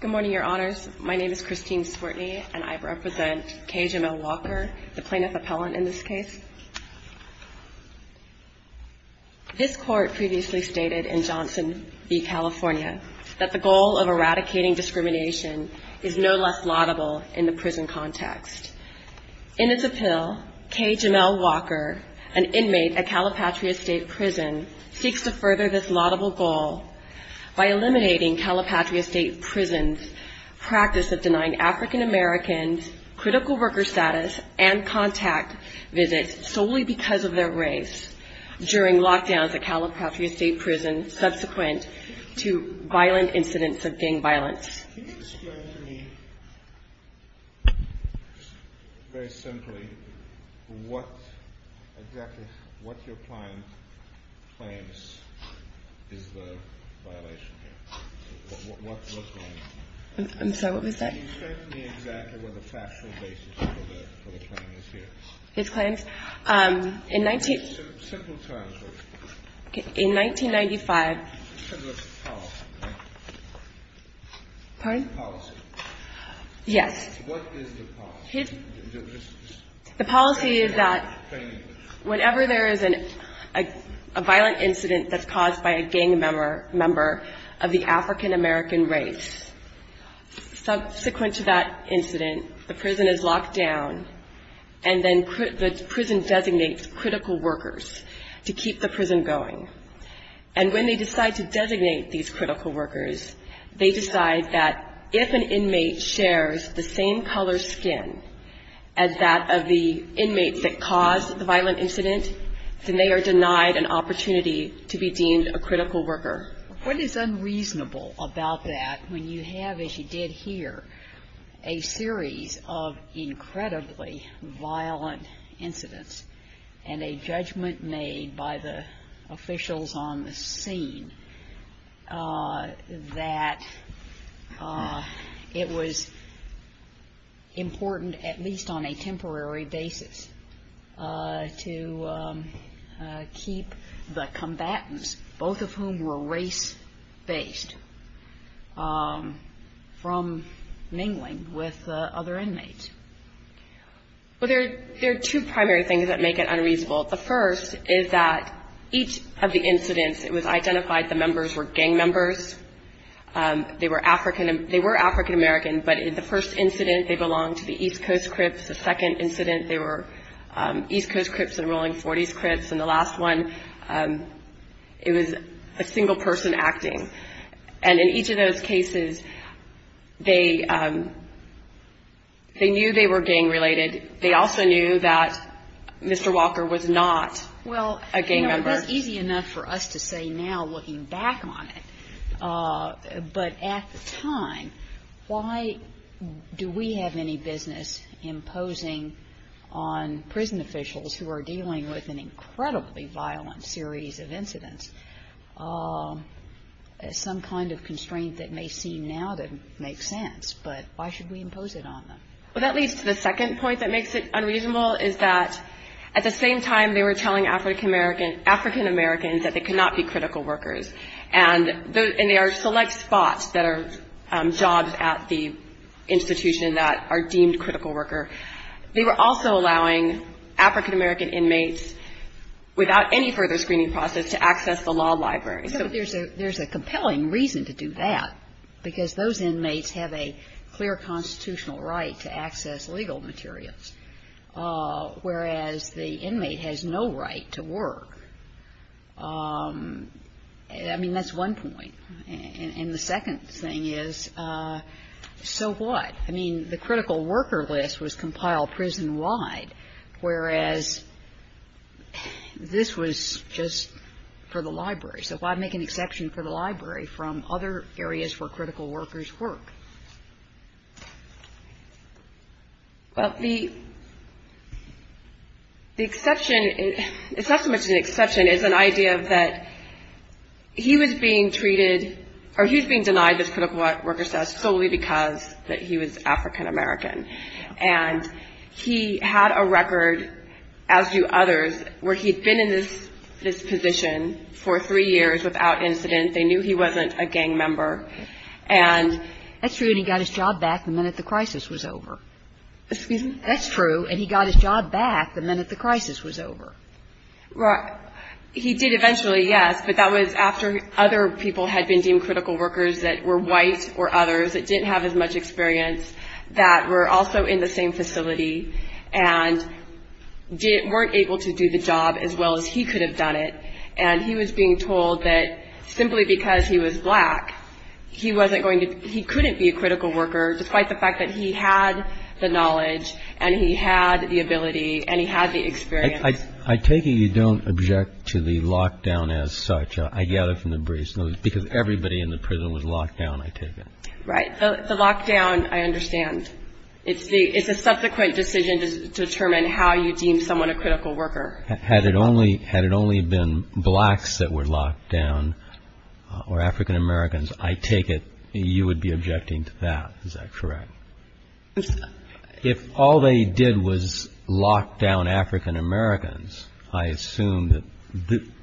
Good morning, Your Honors. My name is Christine Sportney, and I represent K. Jemel Walker, the plaintiff appellant in this case. This court previously stated in Johnson v. California that the goal of eradicating discrimination is no less laudable in the prison context. In its appeal, K. Jemel Walker, an inmate at Calipatri Estate Prison, seeks to further this laudable goal by eliminating Calipatri Estate Prison's practice of denying African Americans critical worker status and contact visits solely because of their race during lockdowns at Calipatri Estate Prison subsequent to violent incidents of gang violence. Can you explain to me, very simply, what exactly your client claims is the violation here? I'm sorry, what was that? Can you explain to me exactly what the factual basis for the claim is here? His claims? In 19- Simple terms, please. In 1995- This is a policy, right? Pardon? It's a policy. Yes. What is the policy? The policy is that whenever there is a violent incident that's caused by a gang member of the African American race, subsequent to that incident, the prison is locked down, and then the prison designates critical workers to keep the prison going. And when they decide to designate these critical workers, they decide that if an inmate shares the same color skin as that of the inmates that caused the violent incident, then they are denied an opportunity to be deemed a critical worker. What is unreasonable about that when you have, as you did here, a series of incredibly violent incidents and a judgment made by the officials on the scene that it was important, at least on a temporary basis, to keep the combatants, both of whom were race-based, from mingling with other inmates? Well, there are two primary things that make it unreasonable. The first is that each of the incidents, it was identified the members were gang members. They were African American, but in the first incident, they belonged to the East Coast Crips. The second incident, they were East Coast Crips and Rolling Forties Crips. And the last one, it was a single person acting. And in each of those cases, they knew they were gang-related. They also knew that Mr. Walker was not a gang member. It is easy enough for us to say now, looking back on it, but at the time, why do we have any business imposing on prison officials who are dealing with an incredibly violent series of incidents some kind of constraint that may seem now to make sense, but why should we impose it on them? Well, that leads to the second point that makes it unreasonable, is that at the same time they were telling African Americans that they could not be critical workers. And they are select spots that are jobs at the institution that are deemed critical worker. They were also allowing African American inmates, without any further screening process, to access the law library. So there's a compelling reason to do that, because those inmates have a clear constitutional right to access legal materials, whereas the inmate has no right to work. I mean, that's one point. And the second thing is, so what? I mean, the critical worker list was compiled prison-wide, whereas this was just for the library. So why make an exception for the library from other areas where critical workers work? Well, the exception, it's not so much an exception, it's an idea that he was being treated, or he was being denied this critical worker status solely because he was African American. And he had a record, as do others, where he'd been in this position for three years without incident. They knew he wasn't a gang member. And he got his job back the minute the crisis was over. Excuse me? That's true. And he got his job back the minute the crisis was over. He did eventually, yes, but that was after other people had been deemed critical workers that were white or others that didn't have as much experience that were also in the same facility and weren't able to do the job as well as he could have done it. And he was being told that simply because he was black, he couldn't be a critical worker, despite the fact that he had the knowledge and he had the ability and he had the experience. I take it you don't object to the lockdown as such, I gather from the briefs, because everybody in the prison was locked down, I take it. Right. The lockdown, I understand. It's a subsequent decision to determine how you deem someone a critical worker. Had it only been blacks that were locked down or African Americans, I take it you would be objecting to that. Is that correct? If all they did was lock down African Americans, I assume that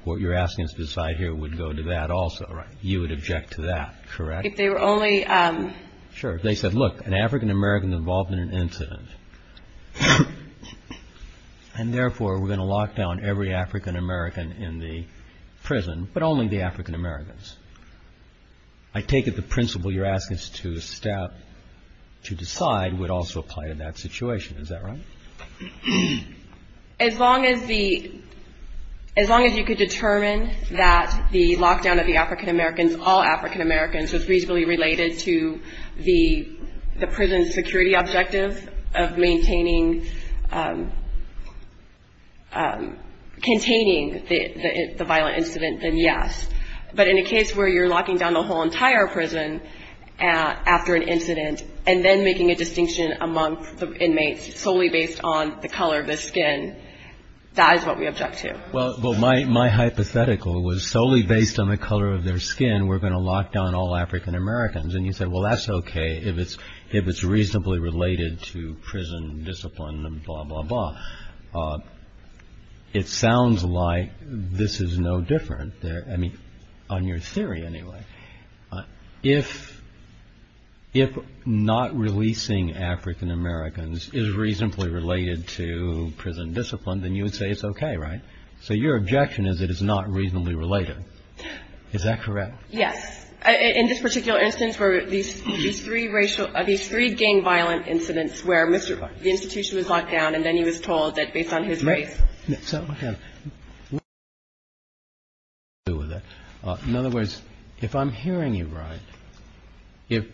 what you're asking us to decide here would go to that also, right? You would object to that, correct? If they were only. Sure. They said, look, an African American involved in an incident. And therefore, we're going to lock down every African American in the prison, but only the African Americans. I take it the principle you're asking us to step to decide would also apply to that situation. Is that right? As long as you could determine that the lockdown of the African Americans, all African Americans was reasonably related to the prison security objective of maintaining, containing the violent incident, then yes. But in a case where you're locking down the whole entire prison after an incident and then making a distinction among inmates solely based on the color of the skin, that is what we object to. Well, my hypothetical was solely based on the color of their skin. We're going to lock down all African Americans. And you said, well, that's OK if it's reasonably related to prison discipline and blah, blah, blah. It sounds like this is no different. I mean, on your theory anyway, if not releasing African Americans is reasonably related to prison discipline, then you would say it's OK, right? So your objection is it is not reasonably related. Is that correct? Yes. In this particular instance where these three gang violent incidents where the institution was locked down and then he was told that based on his race. So what do you do with that? In other words, if I'm hearing you right, if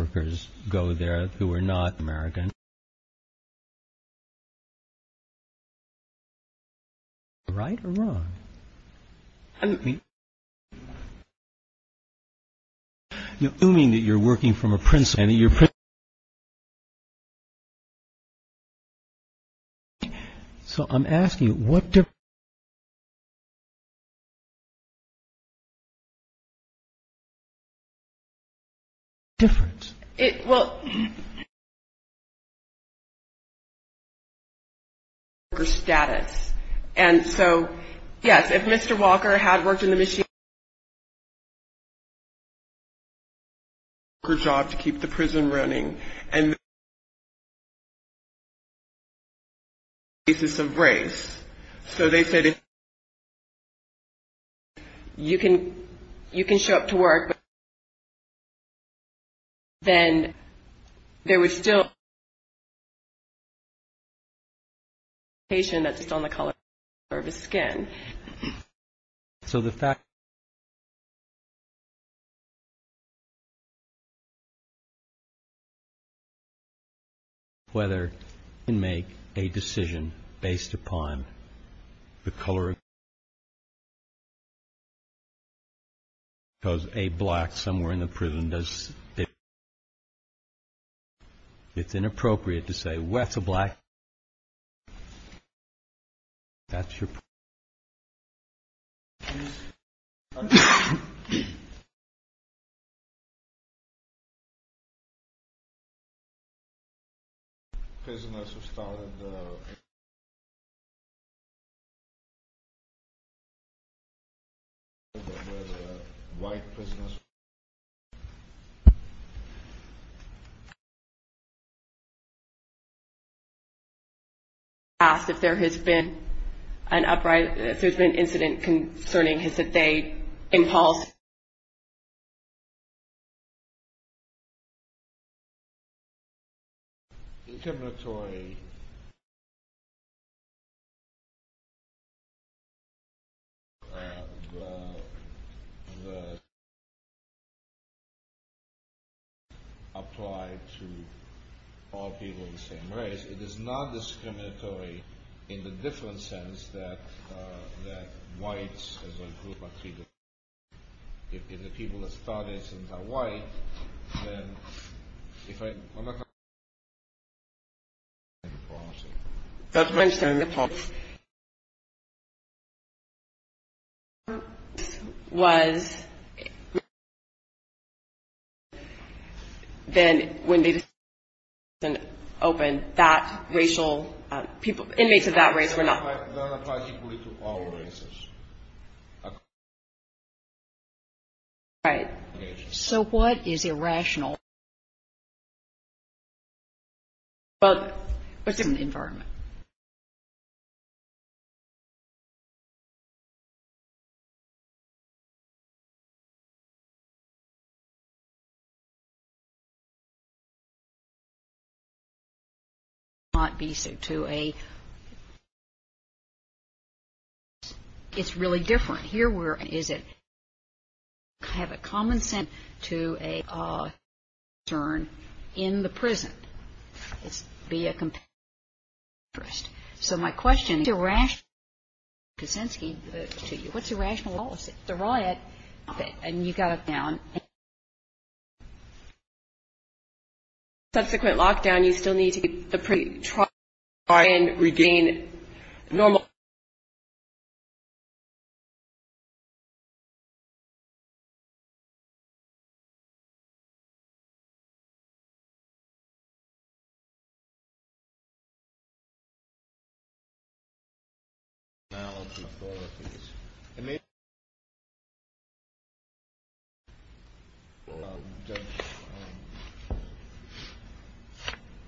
workers go there who are not American, is that right or wrong? I'm assuming that you're working from a prison and you're. So I'm asking what difference. Well. Status. And so, yes, if Mr. Walker had worked in the. Job to keep the prison running and. Is this a race? So they said. You can you can show up to work. Then there was still. Patient that's still in the color of his skin. So the fact. Whether you make a decision based upon the color. Because a black somewhere in the prison does. It's inappropriate to say what's a black. That's your. Prisoners who started. White prisoners. Asked if there has been an upright if there's been incident concerning his that they impulse. Terminatory. Applied to. All people in the same race. It is not discriminatory. In the different sense that. That whites. If the people that started since I white. If I. Was. Was. Then when they. Open that racial people inmates of that race were not. Right. So what is irrational. But within the environment. So. Not be sued to a. It's really different here where is it. Have a common sense to a. Turn in the prison. It's be a. So my question. To rash. To you what's irrational. The riot. And you got down. Subsequent lockdown you still need to. Try. And regain. Normal. Now. I mean.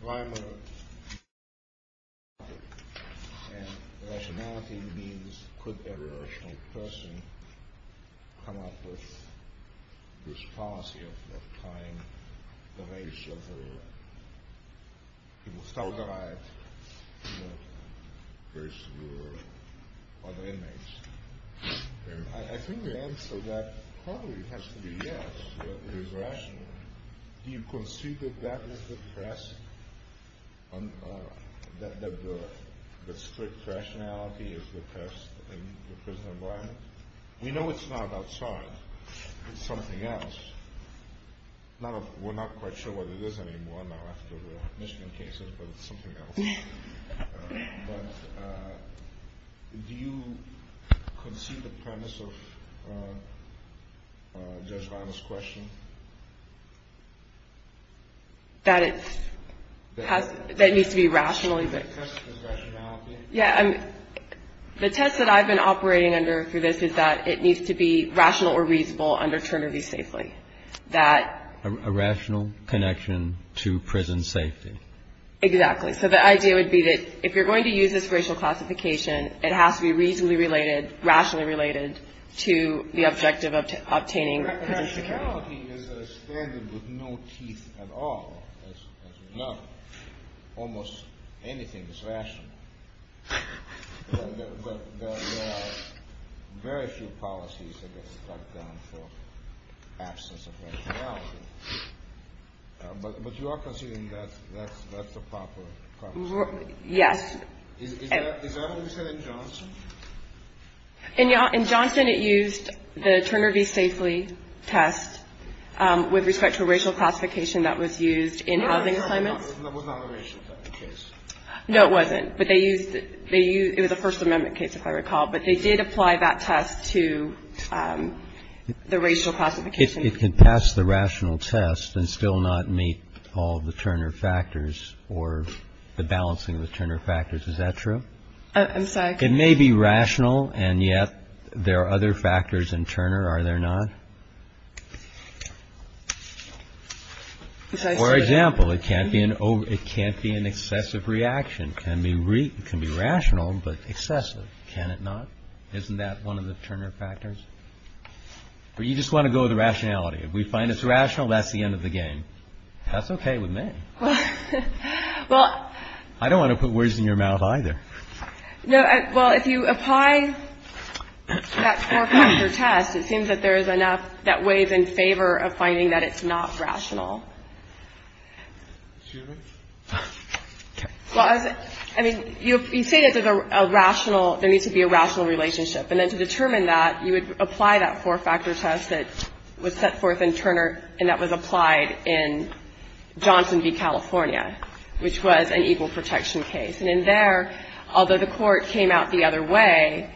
Why. Rationality means. Every person. Come up with. This policy of. Time. The race of. People start the riot. First were. Other inmates. I think the answer that probably has to be yes. You can see that that is the press. That the. The strict rationality is the best. We know it's not outside. It's something else. We're not quite sure what it is anymore. After the Michigan case. Something else. Do you. Conceive the premise of. This question. That it. Has that needs to be rationally. Yeah. The test that I've been operating under for this is that it needs to be rational or reasonable under Turner be safely that. A rational connection to prison safety. Exactly. So the idea would be that if you're going to use this racial classification. It has to be reasonably related. Rationally related. To the objective of. Obtaining. Rationality. Is a standard. With no. Teeth. At all. Almost. Anything is rational. Very few policies. But you are. Yes. In Johnson it used the Turner be safely test. With respect to racial classification that was used in housing. No it wasn't. But they used it. They use the First Amendment case if I recall. But they did apply that test to. The racial classification. It can pass the rational test and still not meet all the Turner factors or the balancing of the Turner factors. Is that true. I'm sorry. It may be rational. And yet. There are other factors in Turner. Are there not. For example it can't be an over it can't be an excessive reaction. Can be. Can be rational. But excessive. Can it not. Isn't that one of the Turner factors. You just want to go the rationality. We find it's rational. That's the end of the game. That's OK with me. Well. I don't want to put words in your mouth either. No. Well if you apply. That. Test. It seems that there is enough that weighs in favor of finding that it's not rational. Well. I mean. You say that there's a rational. There needs to be a rational relationship. And then to determine that you would apply that four factor test that was set forth in Turner. And that was applied in Johnson v. California which was an equal protection case. And in there although the court came out the other way.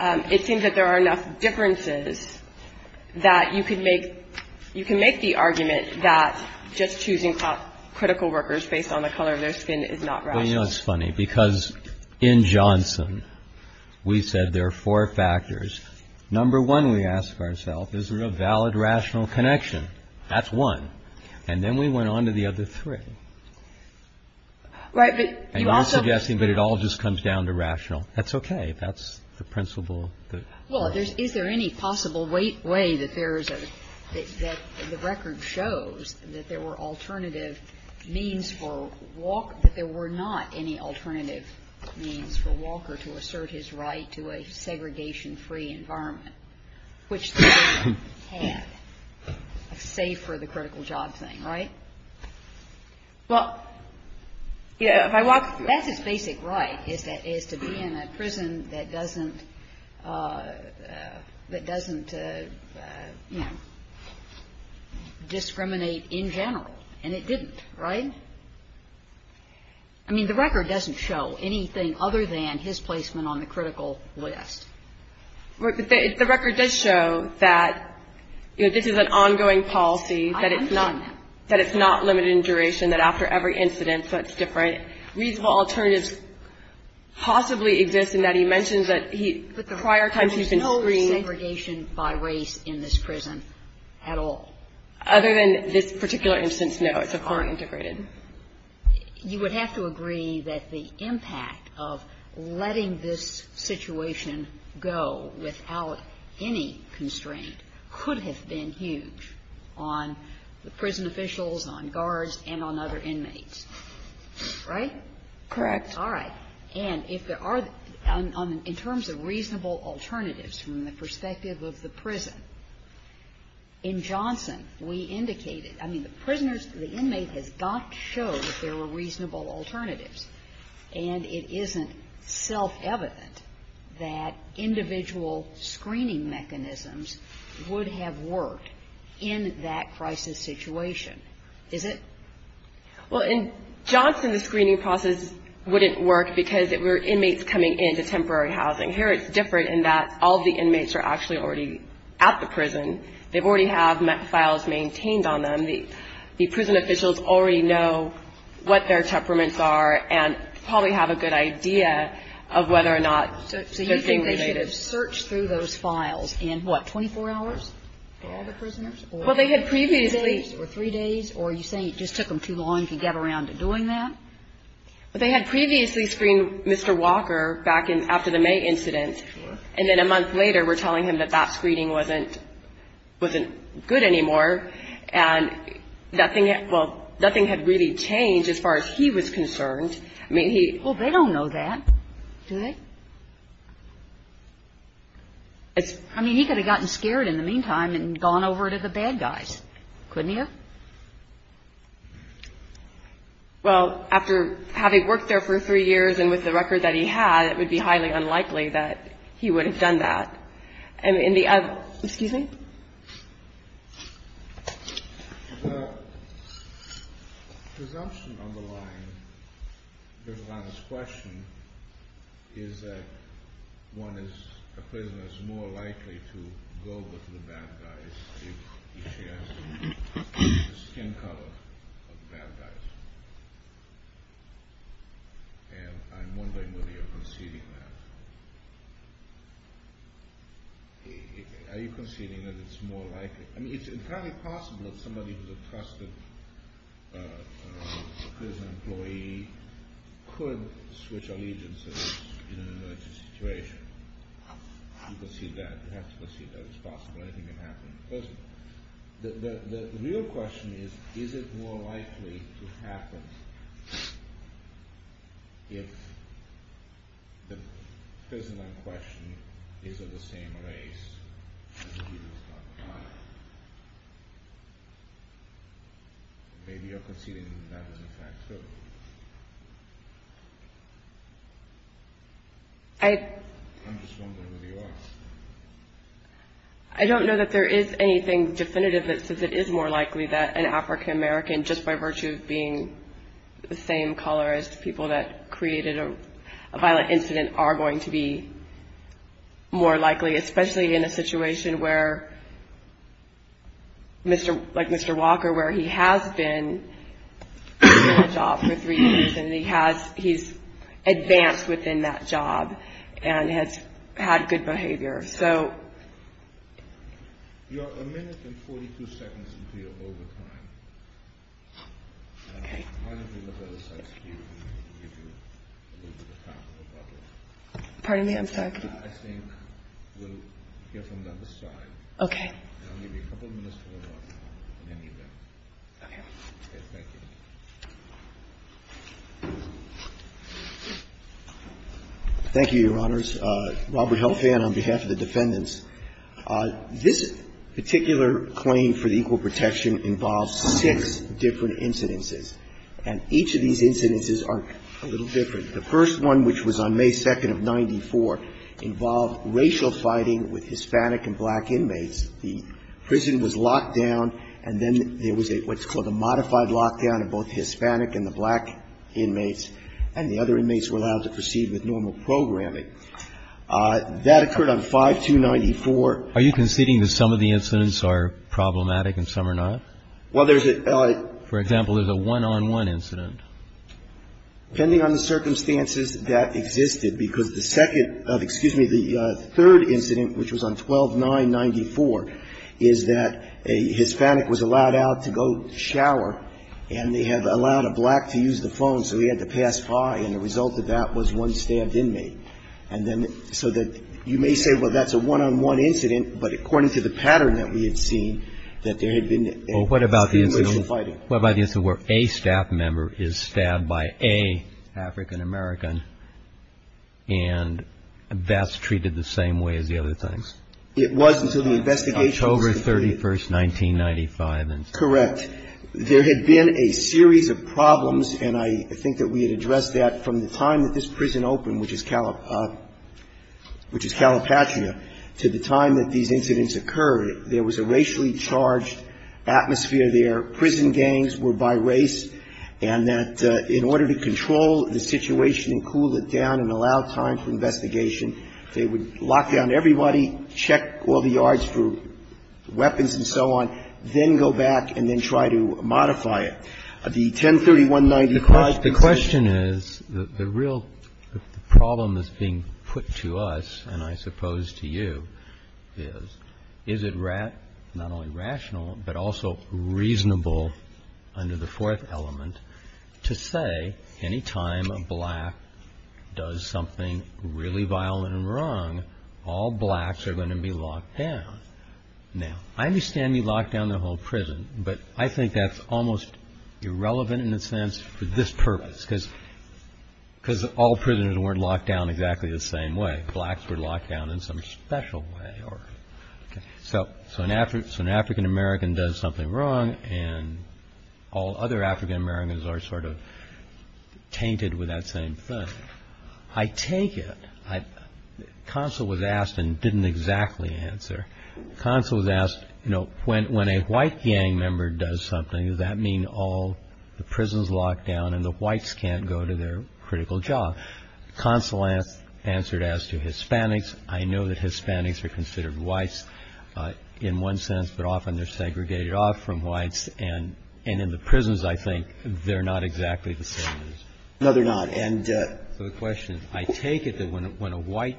It seems that there are enough differences that you could make. You can make the argument that just choosing critical workers based on the color of their skin is not. You know it's funny because in Johnson. We said there are four factors. Number one we ask ourself is there a valid rational connection. That's one. And then we went on to the other three. Right. But you are suggesting that it all just comes down to rational. That's OK. That's the principle. Well there's. Is there any possible way. Way that there is a. That the record shows that there were alternative means for. Walker that there were not any alternative means for Walker to assert his right to a segregation free environment. Which. Can. Save for the critical job thing. Right. Well. You know if I walk. That's his basic right is that is to be in a prison that doesn't. That doesn't. Discriminate in general. And it didn't. Right. I mean the record doesn't show anything other than his placement on the critical list. But the record does show that. This is an ongoing policy. That it's not. That it's not limited in duration. That after every incident. So it's different. Reasonable alternatives. Possibly exist in that he mentions that he. Prior times he's been screened. There's no segregation by race in this prison. At all. Other than this particular instance. No. It's a foreign integrated. You would have to agree that the impact of letting this situation go without any constraint could have been huge on the prison officials, on guards, and on other inmates. Right? Correct. All right. And if there are in terms of reasonable alternatives from the perspective of the prison. In Johnson we indicated. I mean the prisoners, the inmate has not shown that there were reasonable alternatives. And it isn't self-evident that individual screening mechanisms would have worked in that crisis situation. Is it? Well, in Johnson the screening process wouldn't work because it were inmates coming into temporary housing. Here it's different in that all the inmates are actually already at the prison. They already have files maintained on them. The prison officials already know what their temperaments are and probably have a good idea of whether or not they're being related. So you think they should have searched through those files in, what, 24 hours for all the prisoners? Well, they had previously. Or three days? Or are you saying it just took them too long to get around to doing that? Well, they had previously screened Mr. Walker back after the May incident. And then a month later we're telling him that that screening wasn't good anymore. And nothing, well, nothing had really changed as far as he was concerned. I mean he. Well, they don't know that. Do they? I mean he could have gotten scared in the meantime and gone over to the bad guys. Couldn't he have? Well, after having worked there for three years and with the record that he had, it would be highly unlikely that he would have done that. And in the, excuse me? The presumption on the line, on this question, is that one is, a prisoner is more likely to go over to the bad guys. He shares the skin color of the bad guys. And I'm wondering whether you're conceding that. Are you conceding that it's more likely? I mean it's entirely possible that somebody who's a trusted prison employee could switch allegiances in an emergency situation. You concede that. You have to concede that. It's possible. Anything can happen in prison. The real question is, is it more likely to happen if the prisoner in question is of the same race as Jesus? Maybe you're conceding that is in fact so. I'm just wondering whether you are. I don't know that there is anything definitive that says it is more likely that an African American, just by virtue of being the same color as the people that created a violent incident, are going to be more likely, especially in a situation where, like Mr. Walker, where he has been in that job for three years and he has, he's advanced within that job and has had good behavior. So. You are a minute and 42 seconds into your overtime. Okay. I'm going to give you a little bit of time. Pardon me? I'm sorry. I think we'll hear from you on the side. Okay. And I'll give you a couple minutes for remarks on any of that. Okay. Thank you. Thank you, Your Honors. Robert Helfand on behalf of the defendants. This particular claim for the equal protection involves six different incidences, and each of these incidences are a little different. The first one, which was on May 2nd of 1994, involved racial fighting with Hispanic and black inmates. The prison was locked down, and then there was what's called a modified lockdown of both Hispanic and the black inmates, and the other inmates were allowed to proceed with normal programming. That occurred on 5-2-94. Are you conceding that some of the incidents are problematic and some are not? Well, there's a... For example, there's a one-on-one incident. Depending on the circumstances that existed, because the second... excuse me, the third incident, which was on 12-9-94, is that a Hispanic was allowed out to go shower, and they had allowed a black to use the phone, so he had to pass by, and the result of that was one stabbed inmate. And then so that you may say, well, that's a one-on-one incident, but according to the pattern that we had seen, that there had been extreme racial fighting. Well, by the incident where a staff member is stabbed by a African-American, and that's treated the same way as the other things. It was until the investigation... October 31, 1995. Correct. There had been a series of problems, and I think that we had addressed that from the time that this prison opened, which is Calipatria, to the time that these incidents occurred. There was a racially charged atmosphere there. Prison gangs were by race, and that in order to control the situation and cool it down and allow time for investigation, they would lock down everybody, check all the yards for weapons and so on, then go back and then try to modify it. The 10-31-95... The question is, the real problem that's being put to us, and I suppose to you, is, is it not only rational, but also reasonable under the fourth element to say, any time a black does something really violent and wrong, all blacks are going to be locked down. Now, I understand we locked down the whole prison, but I think that's almost irrelevant in a sense for this purpose, because all prisoners weren't locked down exactly the same way. Blacks were locked down in some special way. So an African-American does something wrong, and all other African-Americans are sort of tainted with that same thing. I take it... Consul was asked and didn't exactly answer. Consul was asked, you know, when a white gang member does something, does that mean all the prisons are locked down and the whites can't go to their critical job? Consul answered as to Hispanics. I know that Hispanics are considered whites in one sense, but often they're segregated off from whites. And in the prisons, I think, they're not exactly the same. No, they're not. And... So the question is, I take it that when a white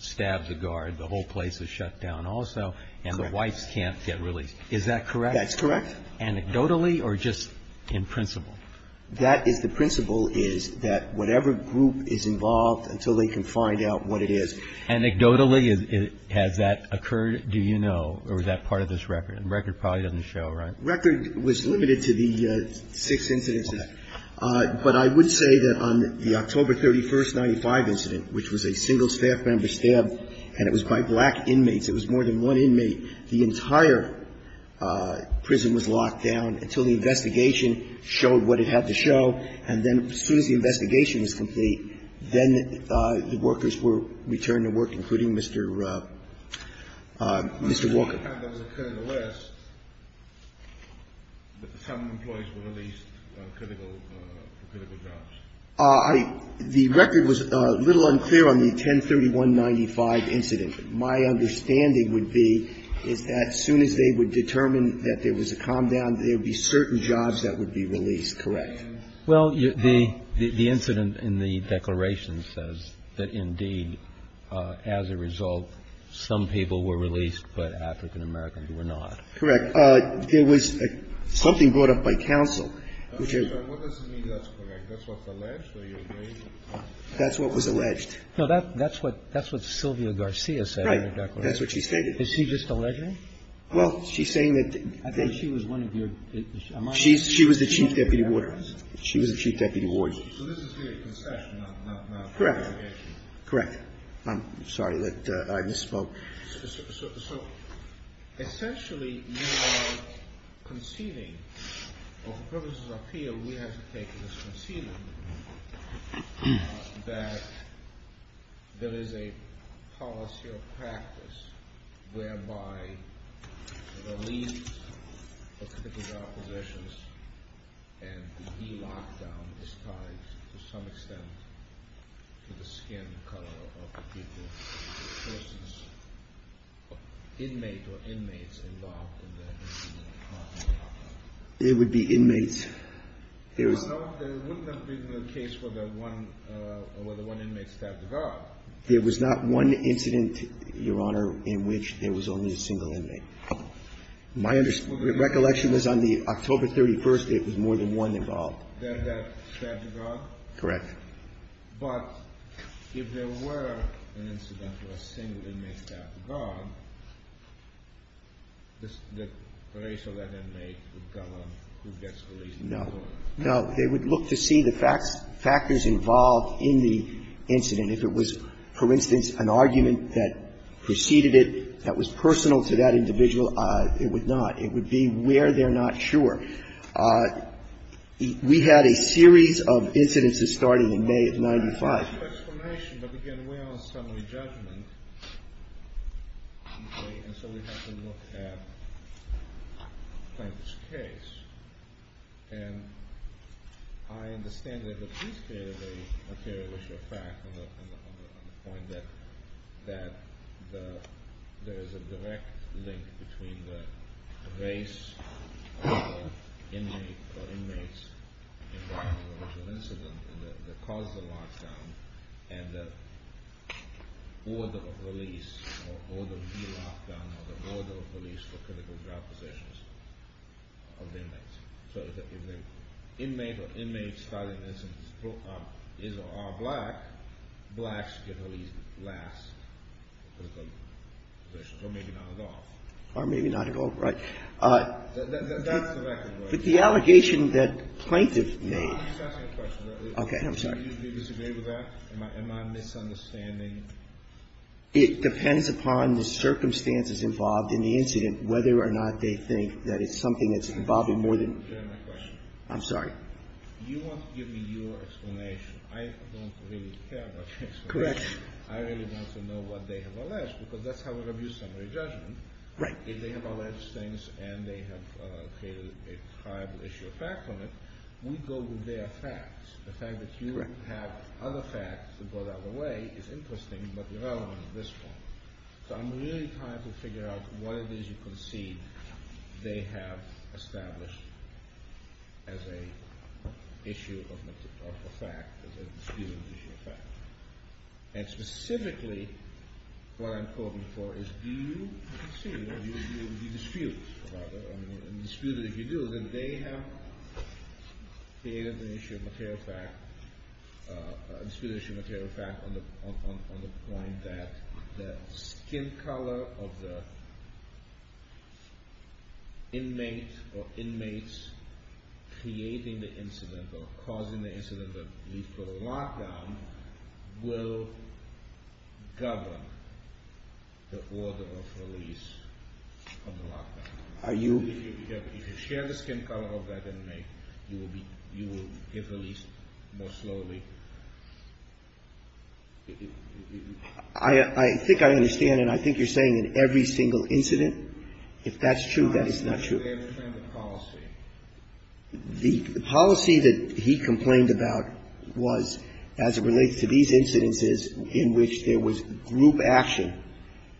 stabs a guard, the whole place is shut down also and the whites can't get released. Is that correct? That's correct. Anecdotally or just in principle? That is the principle is that whatever group is involved until they can find out what it is. Anecdotally, has that occurred? Do you know? Or is that part of this record? The record probably doesn't show, right? The record was limited to the six incidents. But I would say that on the October 31, 1995 incident, which was a single staff member It was more than one inmate. The entire prison was locked down until the investigation showed what it had to show. And then as soon as the investigation was complete, then the workers were returned to work, including Mr. Walker. The record was a little unclear on the 10-31-95 incident. My understanding would be is that as soon as they would determine that there was a calm down, there would be certain jobs that would be released, correct? Well, the incident in the declaration says that, indeed, as a result, some people were released, but African Americans were not. Correct. There was something brought up by counsel. What does it mean that's correct? That's what's alleged? That's what was alleged. No, that's what Sylvia Garcia said in the declaration. Right. That's what she stated. Is she just alleging? Well, she's saying that they I thought she was one of your She was the chief deputy warden. She was the chief deputy warden. So this is the concession, not the investigation. Correct. Correct. I'm sorry that I misspoke. So, essentially, you are conceding, or for purposes of appeal, we have to take it as conceding that there is a policy or practice whereby the release of particular positions and the e-lockdown is tied to some extent to the skin color of the people, for instance, inmate or inmates involved in the e-lockdown. It would be inmates. No, there wouldn't have been a case where the one inmate stabbed the guard. There was not one incident, Your Honor, in which there was only a single inmate. My recollection is on the October 31st, it was more than one involved. Then that stabbed the guard? Correct. But if there were an incident where a single inmate stabbed the guard, the racial that inmate would govern who gets released? No. No. They would look to see the factors involved in the incident. If it was, for instance, an argument that preceded it that was personal to that individual, it would not. It would be where they're not sure. We had a series of incidences starting in May of 1995. But again, we're on summary judgment, and so we have to look at Plankett's case. And I understand that the police created a material issue of fact on the point that there is a direct link between the race of the inmates involved in the original incident and the cause of the lockdown and the order of release or order of the lockdown or the order of release for critical drug possession of the inmates. So if the inmate or inmate started this and is or are black, blacks get released last for critical drug possession, or maybe not at all. Or maybe not at all, right. That's the record, right? But the allegation that Plankett made. I'm just asking a question. Okay. I'm sorry. Do you disagree with that? Am I misunderstanding? It depends upon the circumstances involved in the incident whether or not they think that it's something that's involving more than. I'm sorry. You want to give me your explanation. I don't really care about the explanation. Correct. I really want to know what they have alleged, because that's how we review summary judgment. Right. If they have alleged things and they have created a prior issue of fact on it, we go to their facts. The fact that you have other facts that go the other way is interesting, but irrelevant at this point. So I'm really trying to figure out what it is you concede they have established as an issue of a fact, as a disputed issue of fact. And specifically, what I'm calling for is do you concede, do you dispute about it? I do dispute an issue of material fact on the point that the skin color of the inmate or inmates creating the incident or causing the incident that leads to a lockdown will govern the order of release from the lockdown. If you share the skin color of that inmate, you will get released more slowly. I think I understand, and I think you're saying in every single incident. If that's true, that is not true. I don't understand the policy. The policy that he complained about was as it relates to these incidences in which there was group action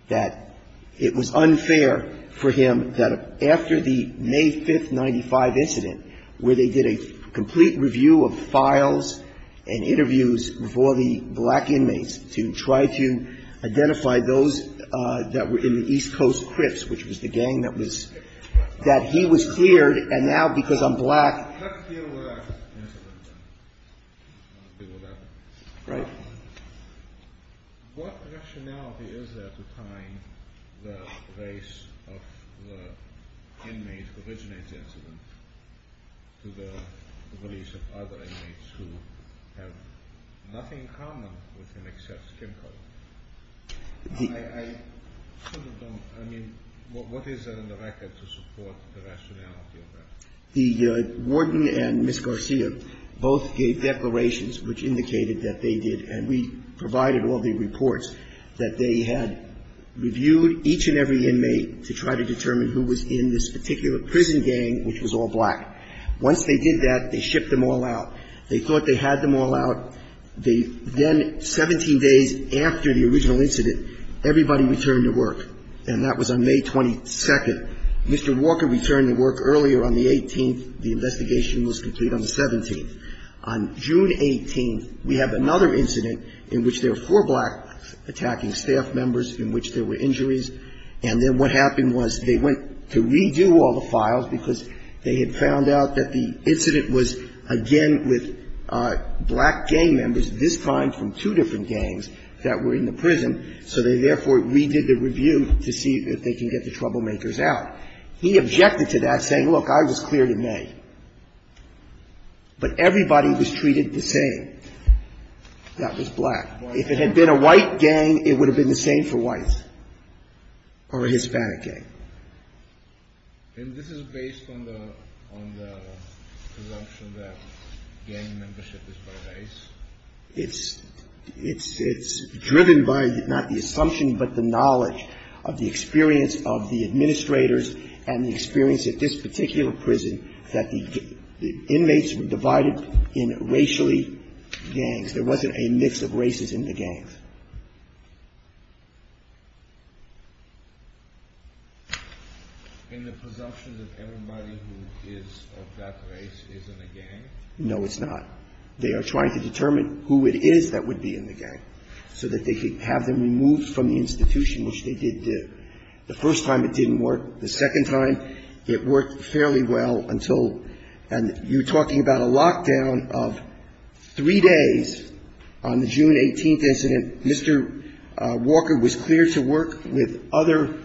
that it was unfair for him that after the May 5, 1995 incident, where they did a complete review of files and interviews with all the black inmates to try to identify those that were in the East Coast Crips, which was the gang that he was cleared, and now because I'm black. Let's deal with that incident then. What rationality is there to tie the race of the inmates who originate the incident to the release of other inmates who have nothing in common with him except skin color? I mean, what is there in the record to support the rationality of that? The warden and Ms. Garcia both gave declarations which indicated that they did, and we provided all the reports that they had reviewed each and every inmate to try to determine who was in this particular prison gang which was all black. Once they did that, they shipped them all out. They thought they had them all out. Then 17 days after the original incident, everybody returned to work, and that was on May 22. Mr. Walker returned to work earlier on the 18th. The investigation was completed on the 17th. On June 18th, we have another incident in which there are four black attacking staff members in which there were injuries, and then what happened was they went to redo all the files because they had found out that the incident was, again, with black gang members, this time from two different gangs that were in the prison, so they therefore redid the review to see if they can get the troublemakers out. He objected to that, saying, look, I was cleared in May, but everybody was treated the same. That was black. If it had been a white gang, it would have been the same for whites or a Hispanic gang. And this is based on the presumption that gang membership is by race? It's driven by not the assumption but the knowledge of the experience of the administrators and the experience at this particular prison that the inmates were divided in racially gangs. There wasn't a mix of races in the gangs. In the presumption that everybody who is of that race isn't a gang? No, it's not. They are trying to determine who it is that would be in the gang, so that they could have them removed from the institution, which they did. The first time it didn't work. The second time it worked fairly well until you're talking about a lockdown of three days. On the June 18th incident, Mr. Walker was cleared to work with other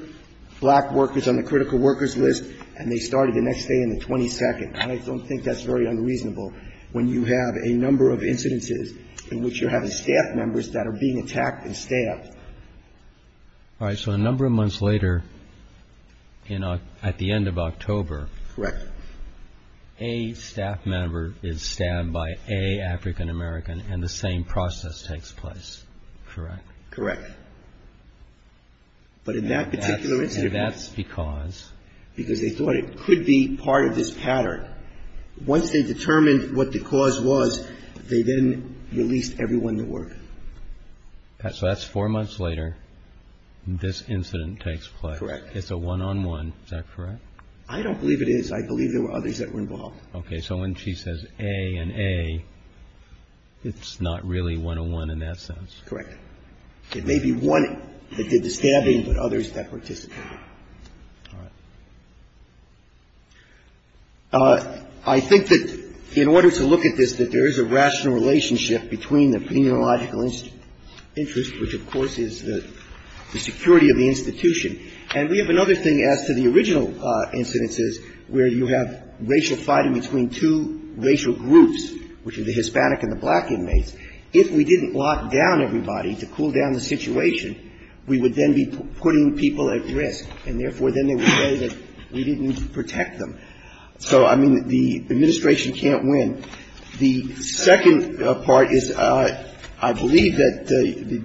black workers on the critical workers list, and they started the next day on the 22nd. I don't think that's very unreasonable when you have a number of incidences in which you're having staff members that are being attacked and stabbed. All right. So a number of months later, at the end of October. Correct. A staff member is stabbed by an African American, and the same process takes place, correct? Correct. But in that particular incident. And that's because? Because they thought it could be part of this pattern. Once they determined what the cause was, they then released everyone that worked. So that's four months later, this incident takes place. Correct. It's a one-on-one, is that correct? I don't believe it is. I believe there were others that were involved. Okay. So when she says A and A, it's not really one-on-one in that sense. Correct. It may be one that did the stabbing, but others that participated. All right. I think that in order to look at this, that there is a rational relationship between the penological interest, which, of course, is the security of the institution. And we have another thing as to the original incidences where you have racial fighting between two racial groups, which are the Hispanic and the black inmates. If we didn't lock down everybody to cool down the situation, we would then be putting people at risk, and therefore, then they would say that we didn't protect them. So, I mean, the Administration can't win. The second part is I believe that the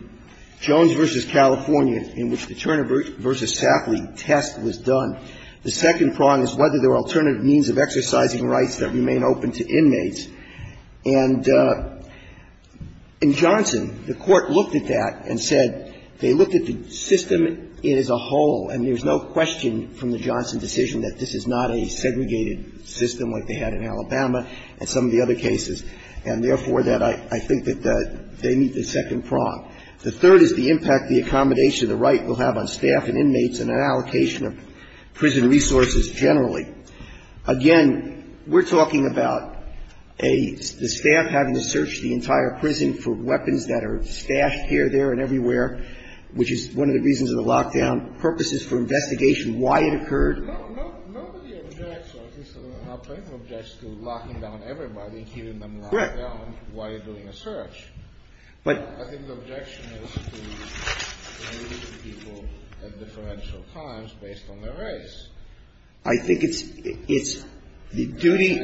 Jones v. California, in which the Turner v. Safley test was done, the second prong is whether there are alternative means of exercising rights that remain open to inmates. And in Johnson, the Court looked at that and said they looked at the system as a whole, and there's no question from the Johnson decision that this is not a segregated system like they had in Alabama and some of the other cases, and therefore, that I think that they meet the second prong. The third is the impact the accommodation of the right will have on staff and inmates and an allocation of prison resources generally. Again, we're talking about a staff having to search the entire prison for weapons that are stashed here, there, and everywhere, which is one of the reasons of the lockdown, purposes for investigation, why it occurred. Kennedy. No, nobody objects, or at least I don't know how many objects, to locking down everybody and keeping them locked down while you're doing a search. But I think the objection is to release the people at differential times based on their race. I think it's the duty.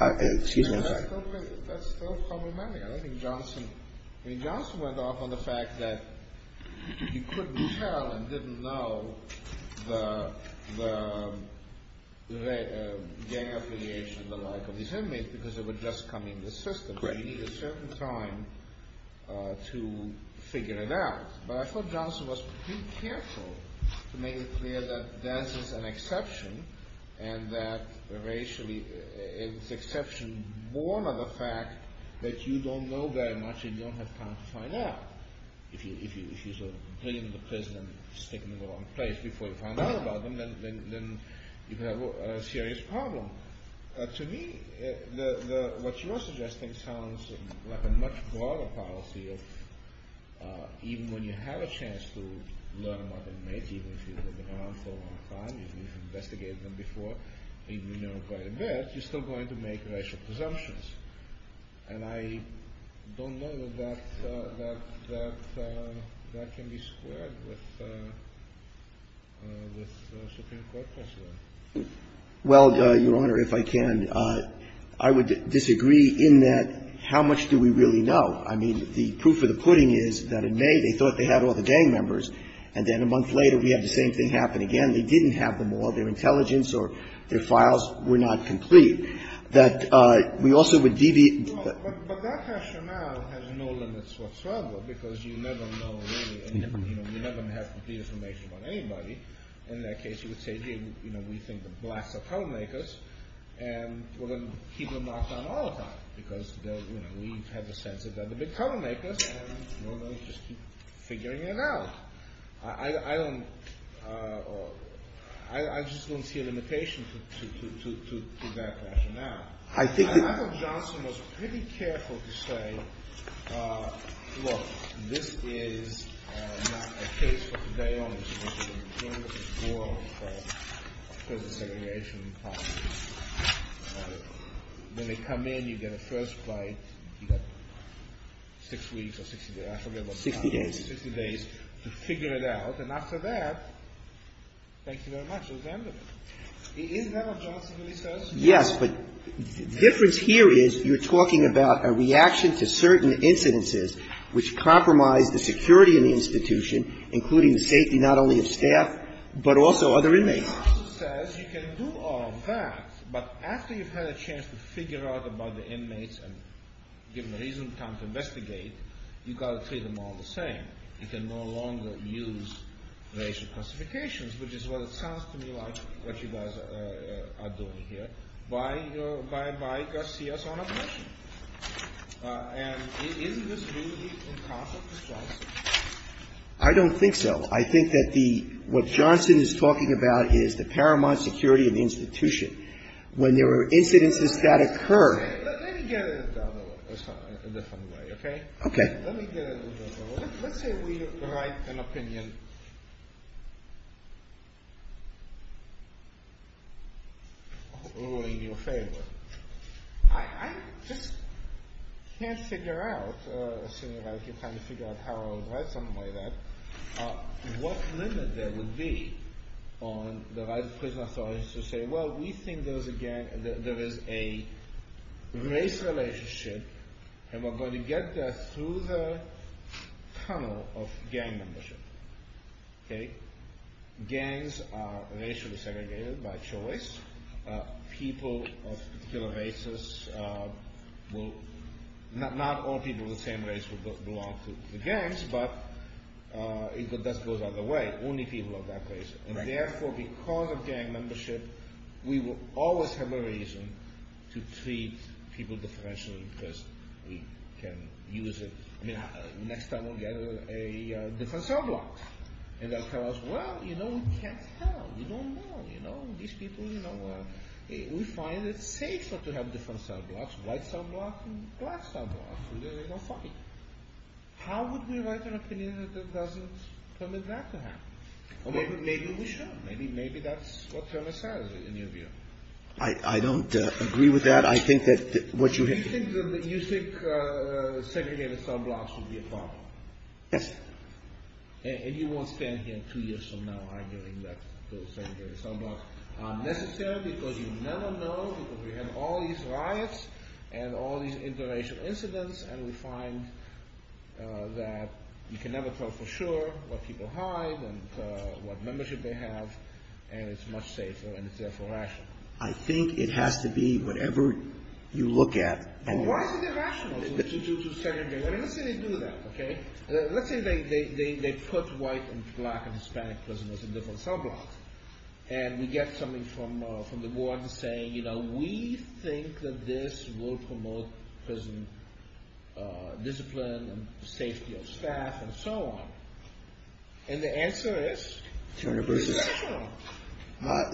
Excuse me. That's still problematic. I don't think Johnson – I mean, Johnson went off on the fact that he couldn't tell and didn't know the gang affiliation and the like of these inmates because they were just coming into the system. He needed a certain time to figure it out. But I thought Johnson was pretty careful to make it clear that dance is an exception and that racially it's an exception born of the fact that you don't know very much and you don't have time to find out. If you sort of bring them to prison and stick them in the wrong place before you find out about them, then you have a serious problem. To me, what you're suggesting sounds like a much broader policy of even when you have a chance to learn about the inmates, even if you've been around for a long time, even if you've investigated them before, even if you know quite a bit, you're still going to make racial presumptions. And I don't know that that can be squared with Supreme Court precedent. Well, Your Honor, if I can, I would disagree in that how much do we really know? I mean, the proof of the pudding is that in May they thought they had all the gang members, and then a month later we have the same thing happen again. They didn't have them all. Their intelligence or their files were not complete. That we also would deviate. But that rationale has no limits whatsoever because you never know really. You never have complete information about anybody. In that case, you would say, you know, we think the blacks are color makers, and we're going to keep them locked down all the time because, you know, we've had the sense that they're the big color makers, and we'll just keep figuring it out. I just don't see a limitation to that rationale. I think Johnson was pretty careful to say, Look, this is not a case for today only. It's a case of prison segregation. When they come in, you get a first flight. You've got six weeks or 60 days. I forget what time it is. Sixty days. Sixty days to figure it out. And after that, thank you very much. It was end of it. Is that what Johnson really says? Yes, but the difference here is you're talking about a reaction to certain incidences which compromise the security of the institution, including the safety not only of staff, but also other inmates. Johnson says you can do all that, but after you've had a chance to figure out about the inmates and given the reasonable time to investigate, you've got to treat them all the same. You can no longer use racial classifications, which is what it sounds to me like what you guys are doing here. Why, you know, why Garcia's on a mission? And isn't this really in conflict with Johnson? I don't think so. I think that the what Johnson is talking about is the paramount security of the institution. When there are incidences that occur. Let me get it a different way, okay? Okay. Let me get it a different way. Let's say we write an opinion in your favor. I just can't figure out, assuming you're trying to figure out how I would write something like that, what limit there would be on the right of prison authorities to say, well, we think there is a race relationship, and we're going to get there through the tunnel of gang membership. Gangs are racially segregated by choice. People of particular races will, not all people of the same race will belong to the gangs, but that goes either way. Only people of that race. And therefore, because of gang membership, we will always have a reason to treat people differentially because we can use it. I mean, next time we'll get a different cell block. And they'll tell us, well, you know, we can't tell. We don't know, you know, these people, you know, we find it safer to have different cell blocks, white cell blocks and black cell blocks, and then they don't fight. How would we write an opinion that doesn't permit that to happen? Maybe we should. Maybe that's what Thomas says, in your view. I don't agree with that. I think that what you have to do. You think segregated cell blocks would be a problem? Yes. And you won't stand here two years from now arguing that those segregated cell blocks aren't necessary because you never know, because we have all these riots and all these international incidents, and we find that you can never tell for sure what people hide and what membership they have, and it's much safer, and it's therefore rational. I think it has to be whatever you look at. Well, why is it irrational to segregate? I mean, let's say they do that, okay? Let's say they put white and black and Hispanic prisoners in different cell blocks, and we get something from the board saying, you know, we think that this will promote prison discipline and safety of staff and so on, and the answer is irrational.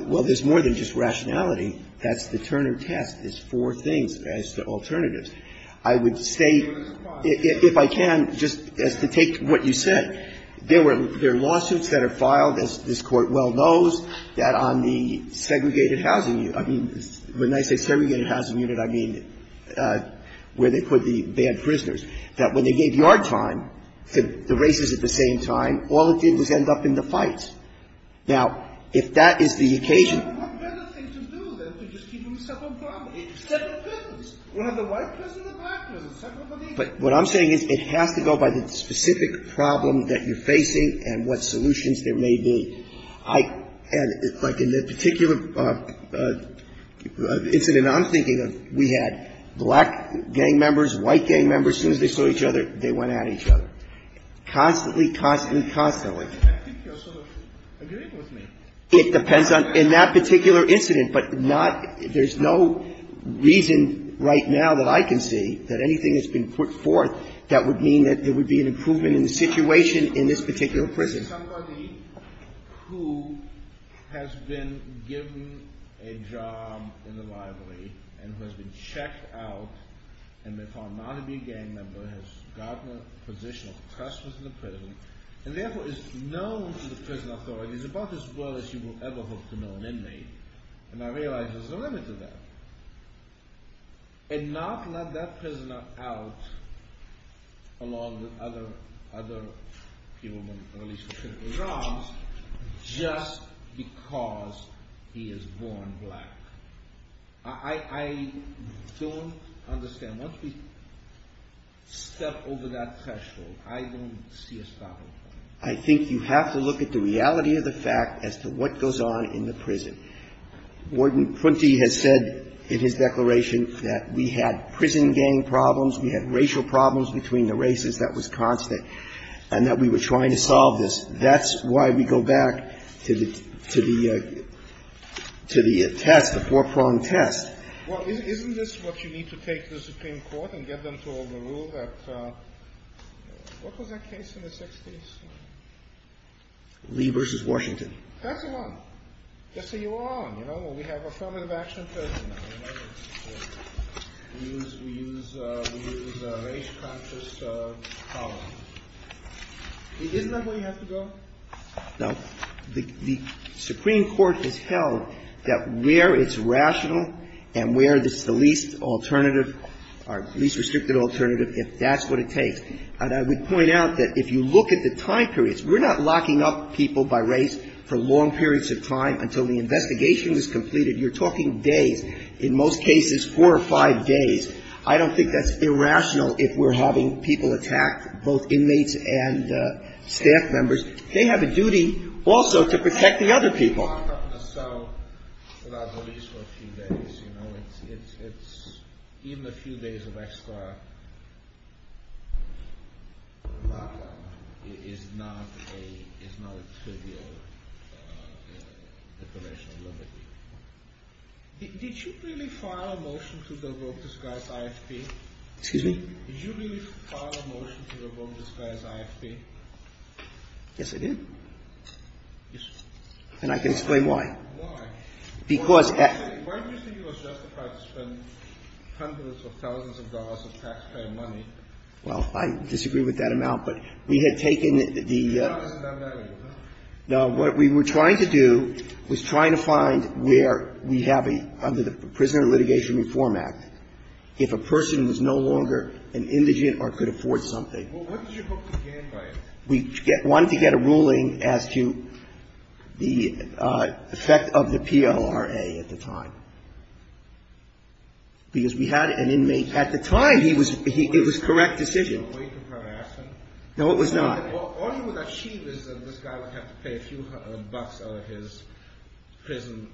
Well, there's more than just rationality. That's the Turner test. There's four things as to alternatives. I would say, if I can, just as to take what you said, there are lawsuits that are filed, as this Court well knows, that on the segregated housing unit, I mean, when I say segregated housing unit, I mean where they put the bad prisoners, that when they gave yard time to the races at the same time, all it did was end up in the fights. Now, if that is the occasion... But what better thing to do than to just keep them in separate prisons? We'll have the white prisoners and the black prisoners, separate for the evening. But what I'm saying is it has to go by the specific problem that you're facing and what solutions there may be. And like in the particular incident I'm thinking of, we had black gang members, white gang members. As soon as they saw each other, they went at each other, constantly, constantly, constantly. I think you're sort of agreeing with me. It depends on ñ in that particular incident, but not ñ there's no reason right now that I can see that anything has been put forth that would mean that there would be an improvement in the situation in this particular prison. Somebody who has been given a job in the library and who has been checked out and may far not have been a gang member has gotten a position of trust within the prison and therefore is known to the prison authorities about as well as you will ever hope to know an inmate. And I realize there's a limit to that. And not let that prisoner out along with other people, at least in terms of jobs, just because he is born black. I don't understand. Once we step over that threshold, I don't see a stopping point. I think you have to look at the reality of the fact as to what goes on in the prison. Warden Pruenty has said in his declaration that we had prison gang problems, we had racial problems between the races that was constant, and that we were trying to solve this. That's why we go back to the ñ to the ñ to the test, the four-pronged test. Well, isn't this what you need to take to the Supreme Court and get them to rule that ñ what was that case in the 60s? Lee v. Washington. That's the one. That's the one, you know, when we have affirmative action in prison. We use ñ we use ñ we use race-conscious policy. Isn't that where you have to go? No. The Supreme Court has held that where it's rational and where it's the least alternative or least restricted alternative, that's what it takes. And I would point out that if you look at the time periods, we're not locking up people by race for long periods of time until the investigation is completed. You're talking days. In most cases, four or five days. I don't think that's irrational if we're having people attack both inmates and staff members. They have a duty also to protect the other people. Excuse me? Yes, I did. And I can explain why. Why? Because ñ Why do you think it was justified to spend hundreds of thousands of dollars of taxpayer money? Well, I disagree with that amount, but we had taken the ñ No, it wasn't done that way, was it? No. What we were trying to do was trying to find where we have a ñ under the Prisoner Litigation Reform Act, if a person was no longer an indigent or could afford something. Well, what did you hope to gain by it? We wanted to get a ruling as to the effect of the PLRA at the time, because we had an inmate. At the time, he was ñ it was a correct decision. Were you prepared to ask him? No, it was not. All you would achieve is that this guy would have to pay a few hundred bucks out of his prison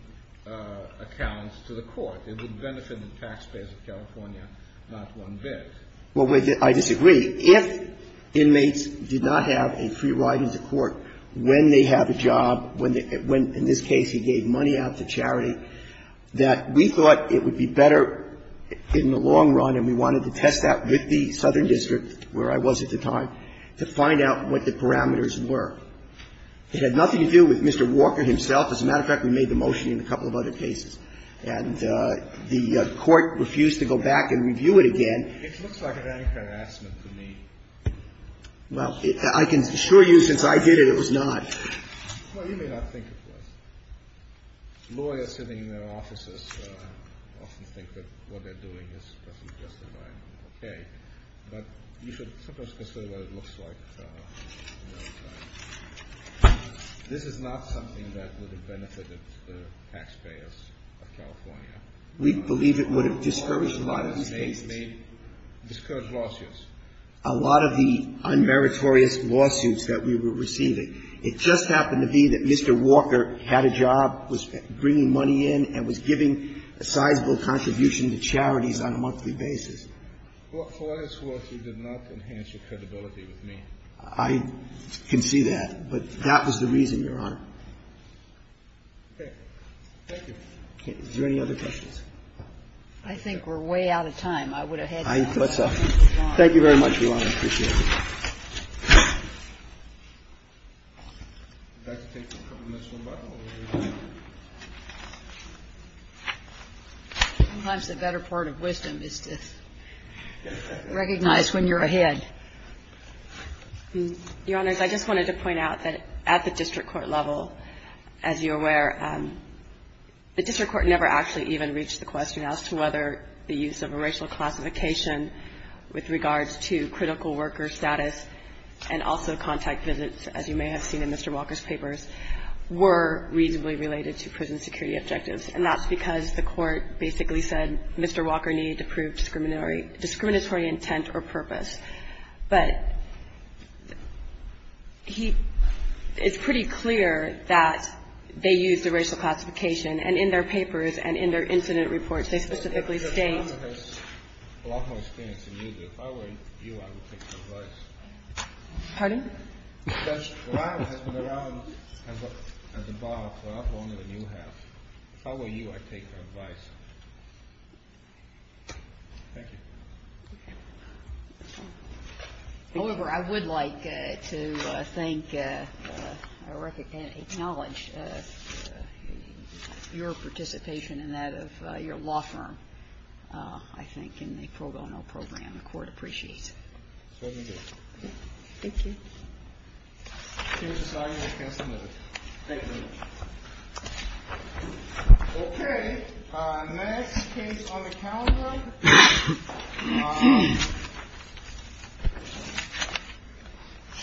accounts to the court. It would benefit the taxpayers of California, not one bit. Well, I disagree. If inmates did not have a free ride into court when they have a job, when they ñ when, in this case, he gave money out to charity, that we thought it would be better in the long run, and we wanted to test that with the Southern District, where I was at the time, to find out what the parameters were. It had nothing to do with Mr. Walker himself. As a matter of fact, we made the motion in a couple of other cases. And the court refused to go back and review it again. It looks like an anti-harassment to me. Well, I can assure you, since I did it, it was not. Well, you may not think it was. Lawyers sitting in their offices often think that what they're doing is perfectly justified and okay. But you should sometimes consider what it looks like. This is not something that would have benefited the taxpayers of California. We believe it would have discouraged a lot of these cases. The attorneys may discourage lawsuits. A lot of the unmeritorious lawsuits that we were receiving, it just happened to be that Mr. Walker had a job, was bringing money in, and was giving a sizable contribution to charities on a monthly basis. For what it's worth, you did not enhance your credibility with me. I can see that. But that was the reason, Your Honor. Okay. Thank you. Is there any other questions? I think we're way out of time. I would have had time. Thank you very much, Your Honor. I appreciate it. Sometimes the better part of wisdom is to recognize when you're ahead. Your Honors, I just wanted to point out that at the district court level, as you're The district court never actually even reached the question as to whether the use of a racial classification with regards to critical worker status and also contact visits, as you may have seen in Mr. Walker's papers, were reasonably related to prison security objectives. And that's because the court basically said Mr. Walker needed to prove discriminatory intent or purpose. But it's pretty clear that they used a racial classification. And in their papers and in their incident reports, they specifically state Your Honor has a lot more experience than you do. If I were you, I would take your advice. Pardon? Your Honor has been around as a bar for a lot longer than you have. If I were you, I'd take your advice. Thank you. However, I would like to thank or acknowledge your participation in that of your law firm, I think, in the pro bono program. The court appreciates it. Thank you. Thank you. Okay. Next case on the calendar. Next case on the calendar.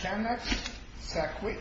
Channex Saquit. U.S. National Guard. Next case.